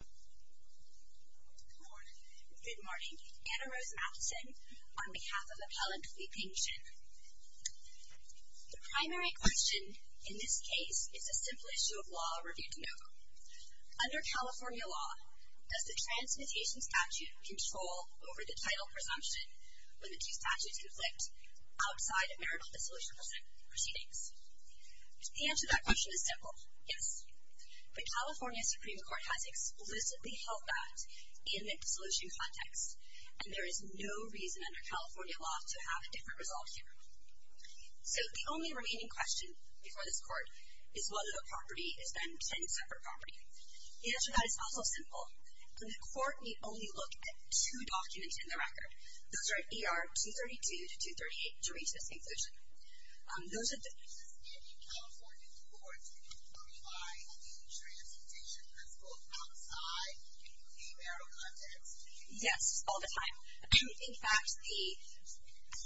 Good morning. Good morning. Anna Rose Matheson on behalf of Appellant Lee Ping Shin. The primary question in this case is a simple issue of law reviewed in OVA. Under California law, does the transmutation statute control over the title presumption when the two statutes conflict outside of marital dissolution proceedings? The answer to that question is simple. Yes. The California Supreme Court has explicitly held that in a dissolution context, and there is no reason under California law to have a different result here. So the only remaining question before this court is whether the property is then 10 separate property. The answer to that is also simple. In the court, we only look at two documents in the record. Those are at ER 232 to 238 to reach this conclusion. Does any California court provide a transmutation that's both outside the marital context? Yes. All the time. In fact, the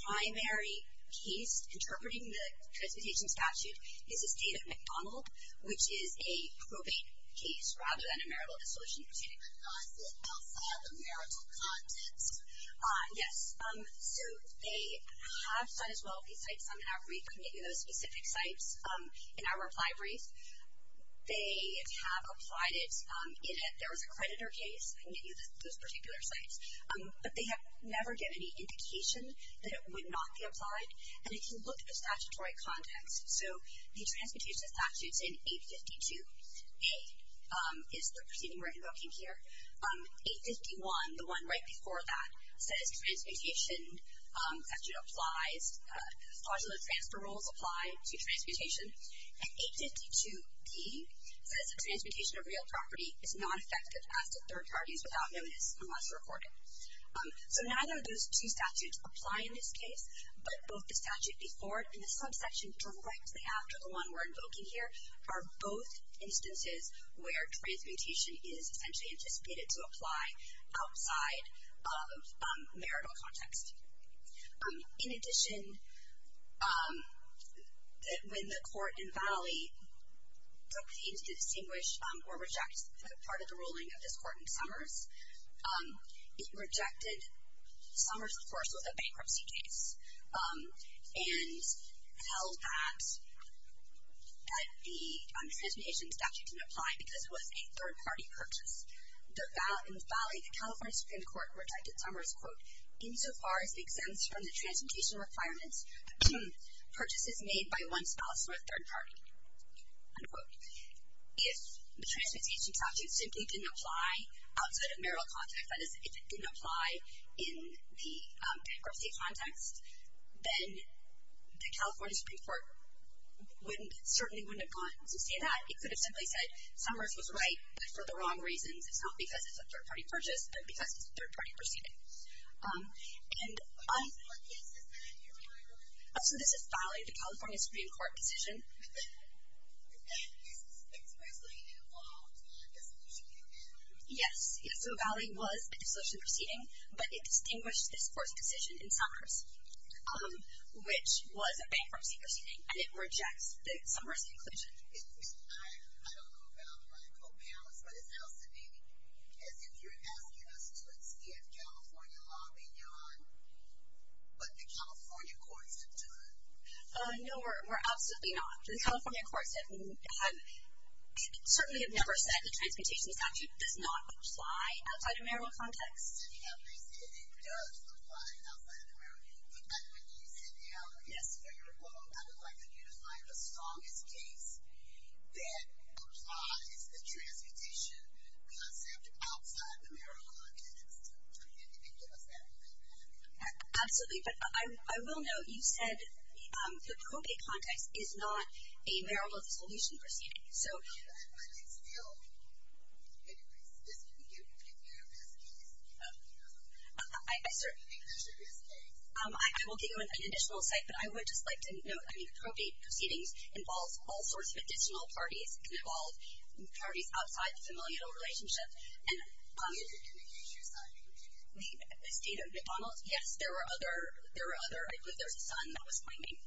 primary case interpreting the transmutation statute is the State of McDonald, which is a probate case rather than a marital dissolution proceeding. But not outside the marital context? Yes. So they have said as well these sites on that brief can give you those specific sites. In our reply brief, they have applied it. There was a creditor case that gave you those particular sites. But they have never given any indication that it would not be applied. And if you look at the statutory context, so the transmutation statute is in 852A, is the proceeding we're invoking here. 851, the one right before that, says transmutation statute applies. Modular transfer rules apply to transmutation. And 852D says that transmutation of real property is not effective as to third parties without notice unless recorded. So neither of those two statutes apply in this case, but both the statute before it and the subsection directly after the one we're invoking here are both instances where transmutation is essentially anticipated to apply outside of marital context. In addition, when the court in Vannelli took the aim to distinguish or reject part of the ruling of this court in Summers, it rejected Summers, of course, with a bankruptcy case and held that the transmutation statute didn't apply because it was a third-party purchase. In Vannelli, the California Supreme Court rejected Summers, quote, insofar as it extends from the transmutation requirements, purchases made by one spouse were third-party, unquote. If the transmutation statute simply didn't apply outside of marital context, that is, if it didn't apply in the bankruptcy context, then the California Supreme Court certainly wouldn't have gone to see that. It could have simply said, Summers was right, but for the wrong reasons. It's not because it's a third-party purchase, but because it's a third-party proceeding. And I'm... So this is filing the California Supreme Court decision. This is expressly involved in a dissolution proceeding. Yes. Yes, so Vannelli was a dissolution proceeding, but it distinguished this court's decision in Summers, which was a bankruptcy proceeding, and it rejects the Summers conclusion. I don't know about the rightful balance, but it sounds to me as if you're asking us to extend California law beyond what the California courts have done. No, we're absolutely not. The California courts certainly have never said the transmutation statute does not apply outside of marital context. Did he ever say that it does apply outside of marital context? But when you said, you know, for your quote, I would like you to find the strongest case that applies the transmutation concept outside of marital context. Can you give us that? Absolutely. But I will note, you said the probate context is not a marital dissolution proceeding. So... But it's still... Anyways, just give me a few of his cases. I certainly think those are his cases. I will give you an additional cite, but I would just like to note, I mean, probate proceedings involve all sorts of additional parties. It can involve parties outside the familial relationship. And... Is it in the case you cited? The state of McDonald's? Yes, there were other... There's a son that was pointing.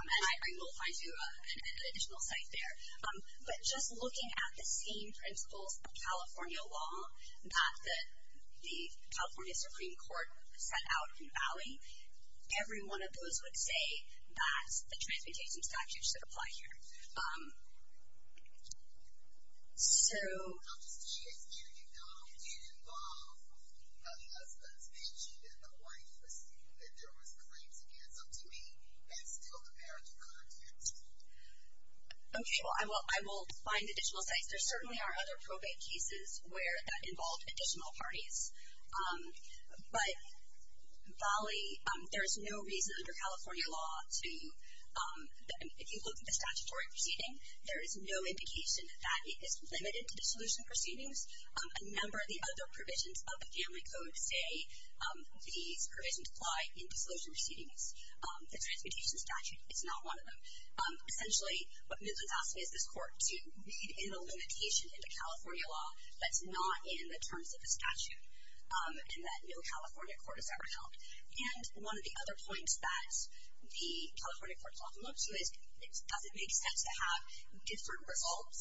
And I will find you an additional cite there. But just looking at the same principles of California law that the California Supreme Court set out in Valley, every one of those would say that the transmutation statute should apply here. So... It involved how the husband's mentioned in the Hawaii proceeding that there was claims against him to me and still the marital context. Okay. Well, I will find additional cites. There certainly are other probate cases where that involved additional parties. But Valley, there is no reason under California law to... If you look at the statutory proceeding, there is no indication that it is limited to dissolution proceedings. A number of the other provisions of the family code say these provisions apply in dissolution proceedings. The transmutation statute is not one of them. Essentially, what Midland's asking is this court to read in a limitation into California law that's not in the terms of the statute and that no California court has ever held. And one of the other points that the California court's often looked to is does it make sense to have different results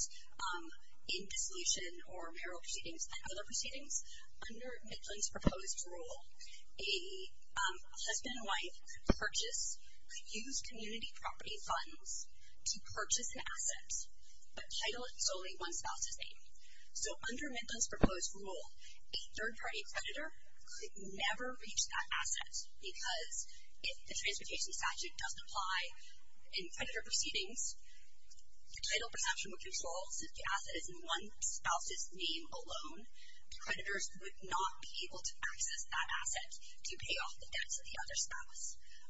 in dissolution or marital proceedings than other proceedings? Under Midland's proposed rule, a husband and wife could purchase, could use community property funds to purchase an asset but title it solely one spouse's name. So under Midland's proposed rule, a third-party creditor could never reach that asset because if the transmutation statute doesn't apply in creditor proceedings, the title perception would control since the asset is in one spouse's name alone. Creditors would not be able to access that asset to pay off the debts of the other spouse.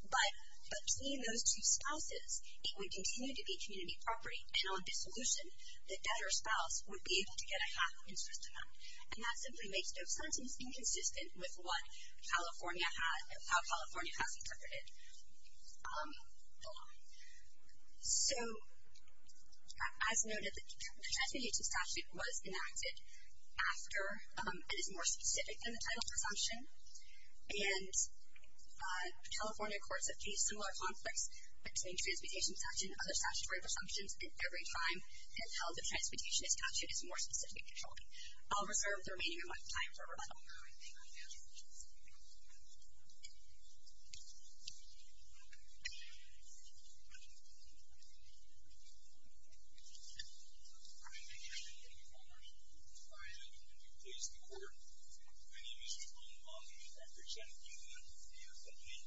But between those two spouses, it would continue to be community property. And on dissolution, the debtor spouse would be able to get a half interest amount. And that simply makes no sense and is inconsistent with what California has, how California has interpreted the law. So as noted, the transmutation statute was enacted after, and is more specific than the title presumption. And California courts have faced similar conflicts between transmutation statute and other statutory presumptions at every time, and how the transmutation statute is more specific. I'll reserve the remaining amount of time for rebuttal. Now I think I've answered your question. Thank you. Thank you, Your Honor. I am going to please the Court. My name is Jerome Long. I represent you and your family.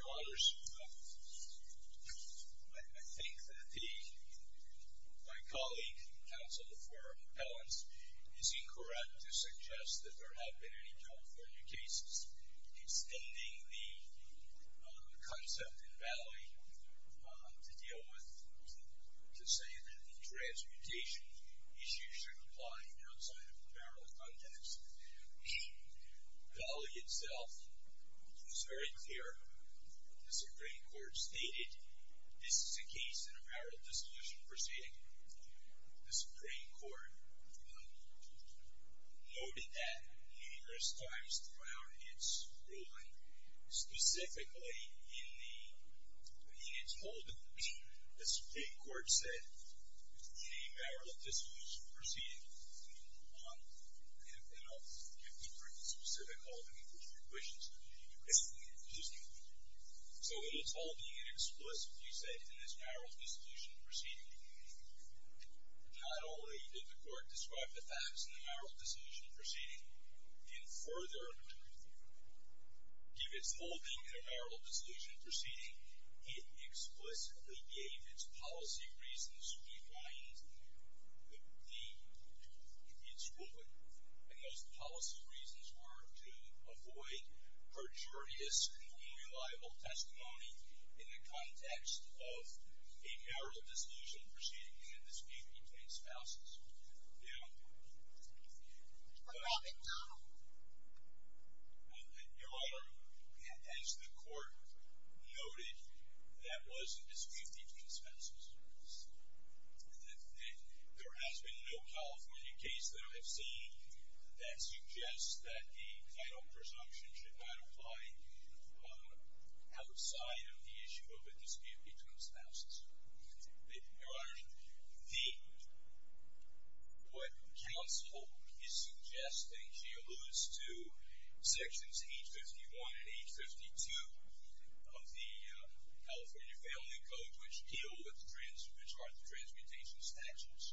Your Honor, I think that the... my colleague, counsel for Ellen's, is incorrect to suggest that there have been any California cases extending the concept in Valley to deal with... to say that the transmutation issue should apply outside of apparel context. Valley itself is very clear. The Supreme Court stated this is a case in apparel dissolution proceeding. The Supreme Court noted that numerous times throughout its ruling, specifically in the... in its holding, the Supreme Court said in a apparel dissolution proceeding, and I'll get to the specific holding, which my question is, did you explicitly infuse it? So in its holding, did you explicitly say in this apparel dissolution proceeding, not only did the Court describe the facts in the apparel dissolution proceeding, and further give its holding in an apparel dissolution proceeding, it explicitly gave its policy reasons behind the... its ruling. And those policy reasons were to avoid perjurious and unreliable testimony in the context of a apparel dissolution proceeding and a dispute between spouses. Now... Your Honor, as the Court noted, that was a dispute between spouses. There has been no California case that I've seen that suggests that the title presumption should not apply outside of the issue of a dispute between spouses. Your Honor, the... what counsel is suggesting, she alludes to sections 851 and 852 of the California Family Code, which deal with... which are the transmutation statutes,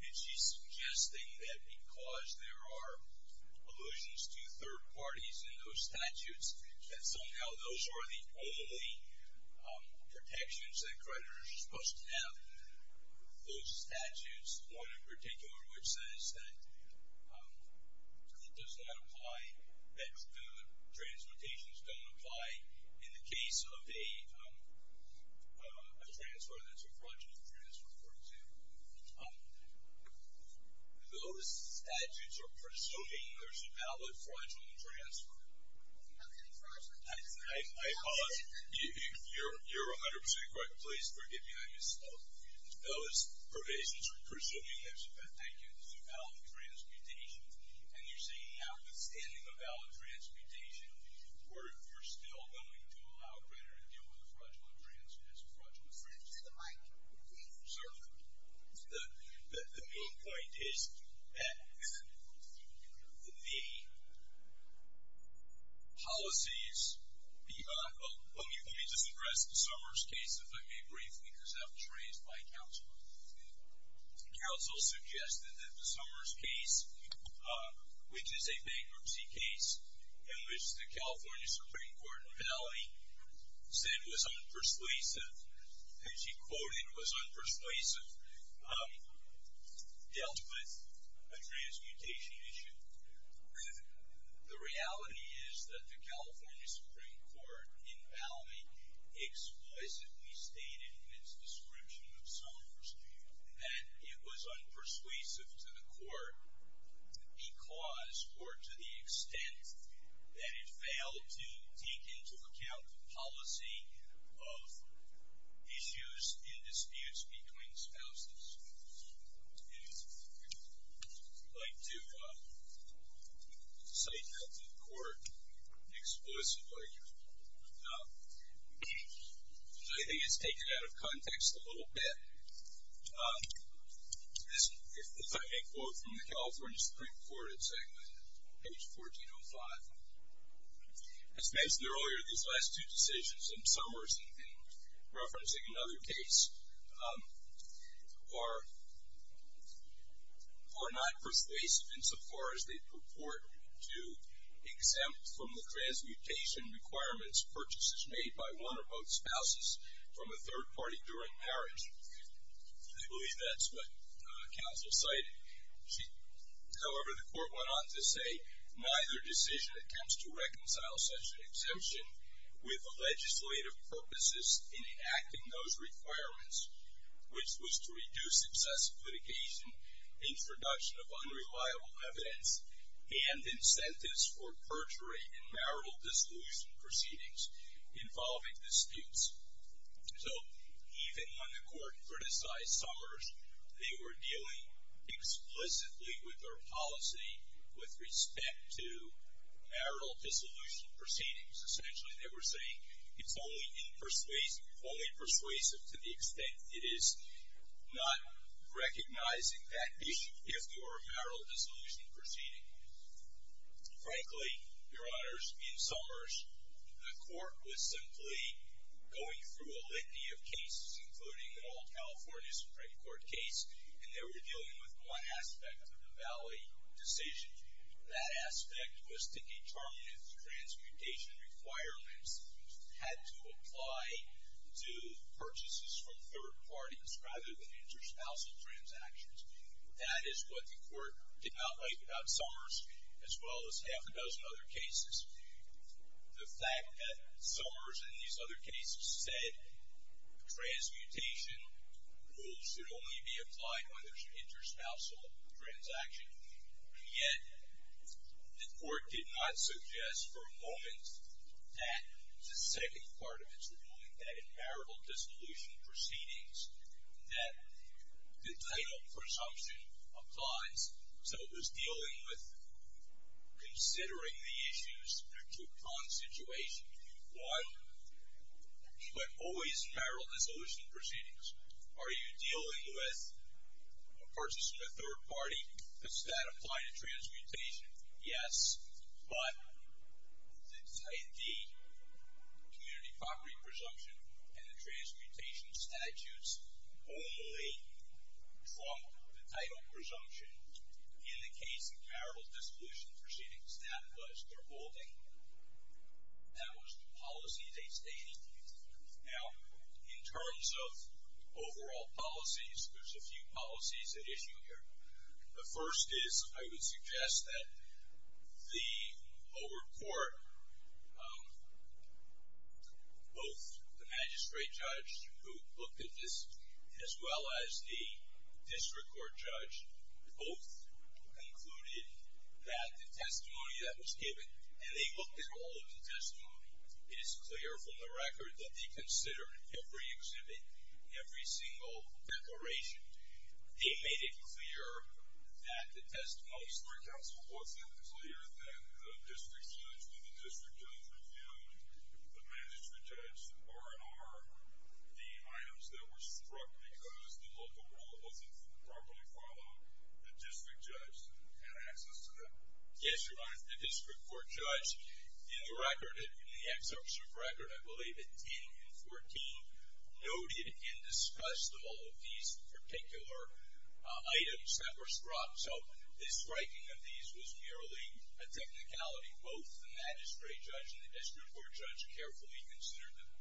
and she's suggesting that because there are allusions to third parties in those statutes, that somehow those are the only protections that creditors are supposed to have with those statutes, one in particular which says that it does not apply, that the transmutations don't apply in the case of a transfer that's a fraudulent transfer, for example. Those statutes are presuming there's a valid fraudulent transfer. I pause. You're 100% correct. Please forgive me. I misspoke. Those provisions are presuming there's a valid... Thank you. There's a valid transmutation, and you're saying now withstanding a valid transmutation, we're still going to allow creditors to deal with a fraudulent transfer. It's a fraudulent transfer. Sir? The main point is that the policies beyond... Let me just address the Summers case, if I may briefly, because I was raised by counsel. Counsel suggested that the Summers case, which is a bankruptcy case in which the California Supreme Court penalty said was unpersuasive, and she quoted was unpersuasive, dealt with a transmutation issue. The reality is that the California Supreme Court in Malmey explicitly stated in its description of Summers that it was unpersuasive to the court because or to the extent that it failed to take into account the policy of issues in disputes between spouses. And I'd like to cite that to the court explicitly. I think it's taken out of context a little bit. If I may quote from the California Supreme Court, it's on page 1405. As mentioned earlier, these last two decisions in Summers in referencing another case are not persuasive insofar as they purport to exempt from the transmutation requirements purchases made by one or both spouses from a third party during marriage. I believe that's what counsel cited. However, the court went on to say neither decision attempts to reconcile such an exemption with the legislative purposes in enacting those requirements, which was to reduce excessive litigation, introduction of unreliable evidence, and incentives for perjury in marital dissolution proceedings involving disputes. So even when the court criticized Summers, they were dealing explicitly with their policy with respect to marital dissolution proceedings. Essentially, they were saying it's only persuasive to the extent it is not recognizing that issue if you are a marital dissolution proceeding. Frankly, Your Honors, in Summers, the court was simply going through a litany of cases, including an old California Supreme Court case, and they were dealing with one aspect of the Valley decision. That aspect was to determine if the transmutation requirements had to apply to purchases from third parties rather than interspousal transactions. That is what the court did not like about Summers, as well as half a dozen other cases. The fact that Summers, in these other cases, said transmutation rules should only be applied when there's an interspousal transaction, yet the court did not suggest for a moment that the second part of its ruling, that in marital dissolution proceedings, that the title presumption applies. So it was dealing with considering the issues to a con situation. One, but always in marital dissolution proceedings, are you dealing with a purchase from a third party? Does that apply to transmutation? Yes, but the community property presumption and the transmutation statutes only from the title presumption in the case of marital dissolution proceedings, that was their holding. That was the policy they stated. Now, in terms of overall policies, there's a few policies at issue here. The first is, I would suggest that the lower court, both the magistrate judge who looked at this, as well as the district court judge, both concluded that the testimony that was given, and they looked at all of the testimony. It is clear from the record that they considered every exhibit, every single declaration. They made it clear that the testimony story council wasn't clear, that the district judge and the district judge reviewed the magistrate judge's R&R, the items that were struck because the local rule wasn't properly followed. The district judge had access to them. Yes, Your Honor, the district court judge, in the record, in the excerpt from the record, I believe at 10 and 14, noted and discussed all of these particular items that were struck. So the striking of these was merely a technicality. Both the magistrate judge and the district court judge carefully considered them and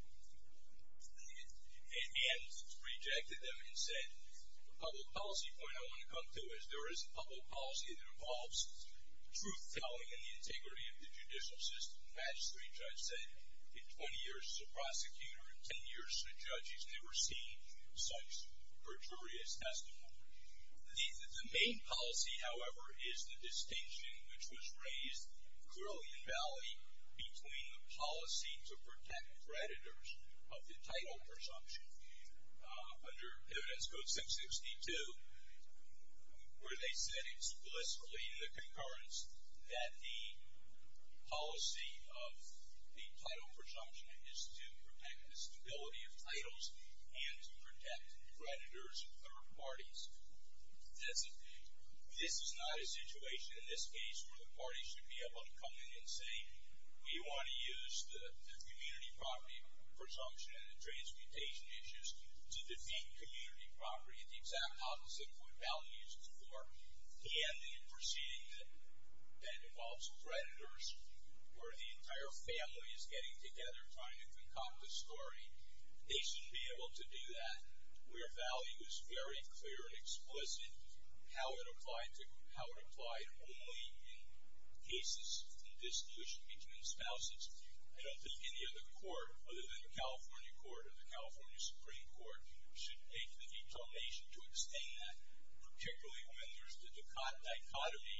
rejected them and said, the public policy point I want to come to is there is a public policy that involves truth telling and the integrity of the judicial system. The magistrate judge said, in 20 years as a prosecutor, in 10 years as a judge, he's never seen such perjurious testimony. The main policy, however, is the distinction which was raised clearly in Valley between the policy to protect creditors of the title presumption under Evidence Code 662, where they said explicitly in the concurrence that the policy of the title presumption is to protect the stability of titles and to protect creditors of third parties. This is not a situation, in this case, where the parties should be able to come in and say, we want to use the community property presumption and the transmutation issues to defeat community property. And the exact opposite of what Valley used it for. And the proceeding that involves creditors, where the entire family is getting together trying to concoct a story, they shouldn't be able to do that where Valley was very clear and explicit how it applied only in cases in dissolution between spouses. I don't think any other court, other than the California Court or the California Supreme Court, should make the determination to abstain that, particularly when there's the dichotomy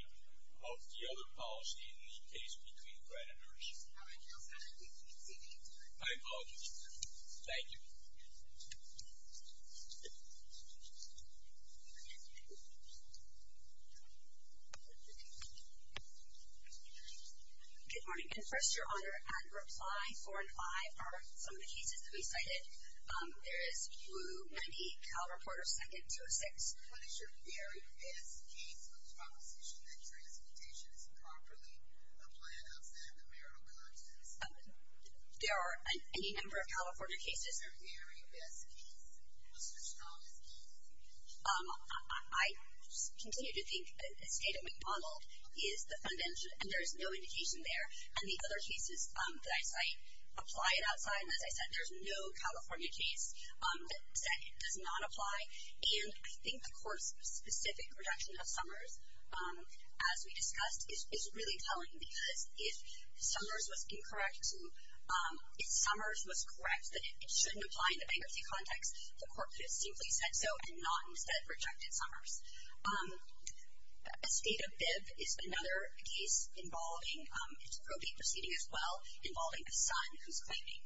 of the other policy in the case between creditors. I apologize. Thank you. Good morning. And first, Your Honor, on reply four and five are some of the cases that we cited. There is Blue 98, Cal Reporter 2nd, 206. What is your very best case of the proposition that transmutation is improperly applied outside the marital context? There are any number of California cases. What's your very best case? What's the strongest case? I continue to think the State of McDonald is the fundamental. And there's no indication there. And the other cases that I cite apply it outside. And as I said, there's no California case that does not apply. And I think the court's specific reduction of Summers, as we discussed, is really telling. Because if Summers was incorrect, if Summers was correct, that it shouldn't apply in the bankruptcy context, the court could have simply said so and not instead rejected Summers. The State of Bibb is another case involving, it's a probate proceeding as well, involving a son who's claiming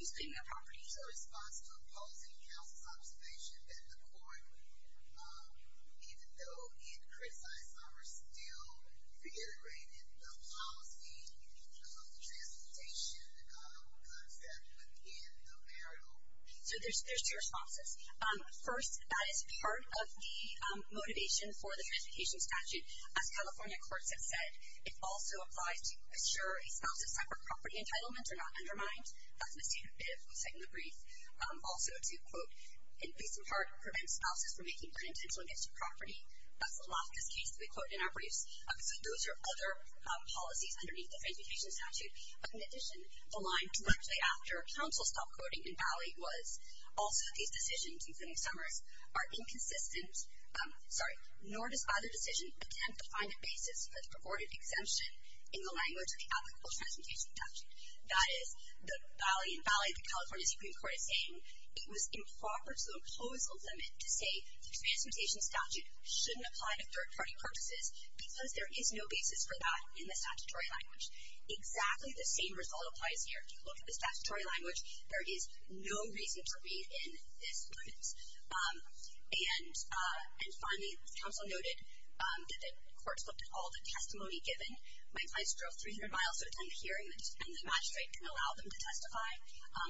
a property. Is there a response to opposing counsel's observation that the court, even though it criticized Summers, still reiterated the policy of transmutation concept within the marital context? So there's two responses. First, that is part of the motivation for the transmutation statute. As California courts have said, it also applies to assure a spouse of separate property entitlements are not undermined. That's what the State of Bibb was saying in the brief. Also to, quote, at least in part prevent spouses from making unintentional gifts of property. That's the last case that we quote in our briefs. So those are other policies underneath the transmutation statute. But in addition, the line directly after counsel stopped quoting in Valley was also these decisions, including Summers, are inconsistent, nor does either decision attempt to find a basis for the purported exemption in the language of the applicable transmutation statute. That is, the Valley in Valley, the California Supreme Court is saying it was improper to impose a limit to say the transmutation statute shouldn't apply to third-party purposes because there is no basis for that in the statutory language. Exactly the same result applies here. If you look at the statutory language, there is no reason to read in this limit. And finally, counsel noted that the courts looked at all the testimony given. My clients drove 300 miles to attend hearing, and the magistrate can allow them to testify.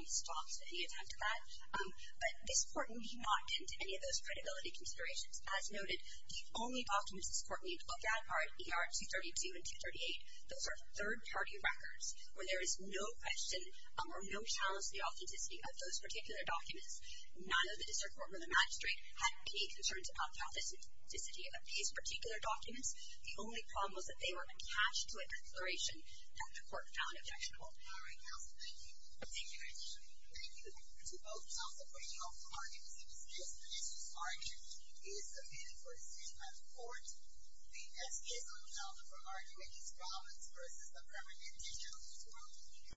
Stops at any attempt to that. But this Court would not get into any of those credibility considerations. As noted, the only documents this Court need to look at are ER 232 and 238. Those are third-party records where there is no question or no challenge to the authenticity of those particular documents. None of the district court or the magistrate had any concerns about the authenticity of these particular documents. The only problem was that they were attached to a declaration that the Court found objectionable. All right, counsel. Thank you. Thank you very much. Thank you. To both counsel for your arguments in this case, the case is argued. Please submit it for discussion at the Court. The next case on the agenda for argument is Providence v. The Permanent Digital News World.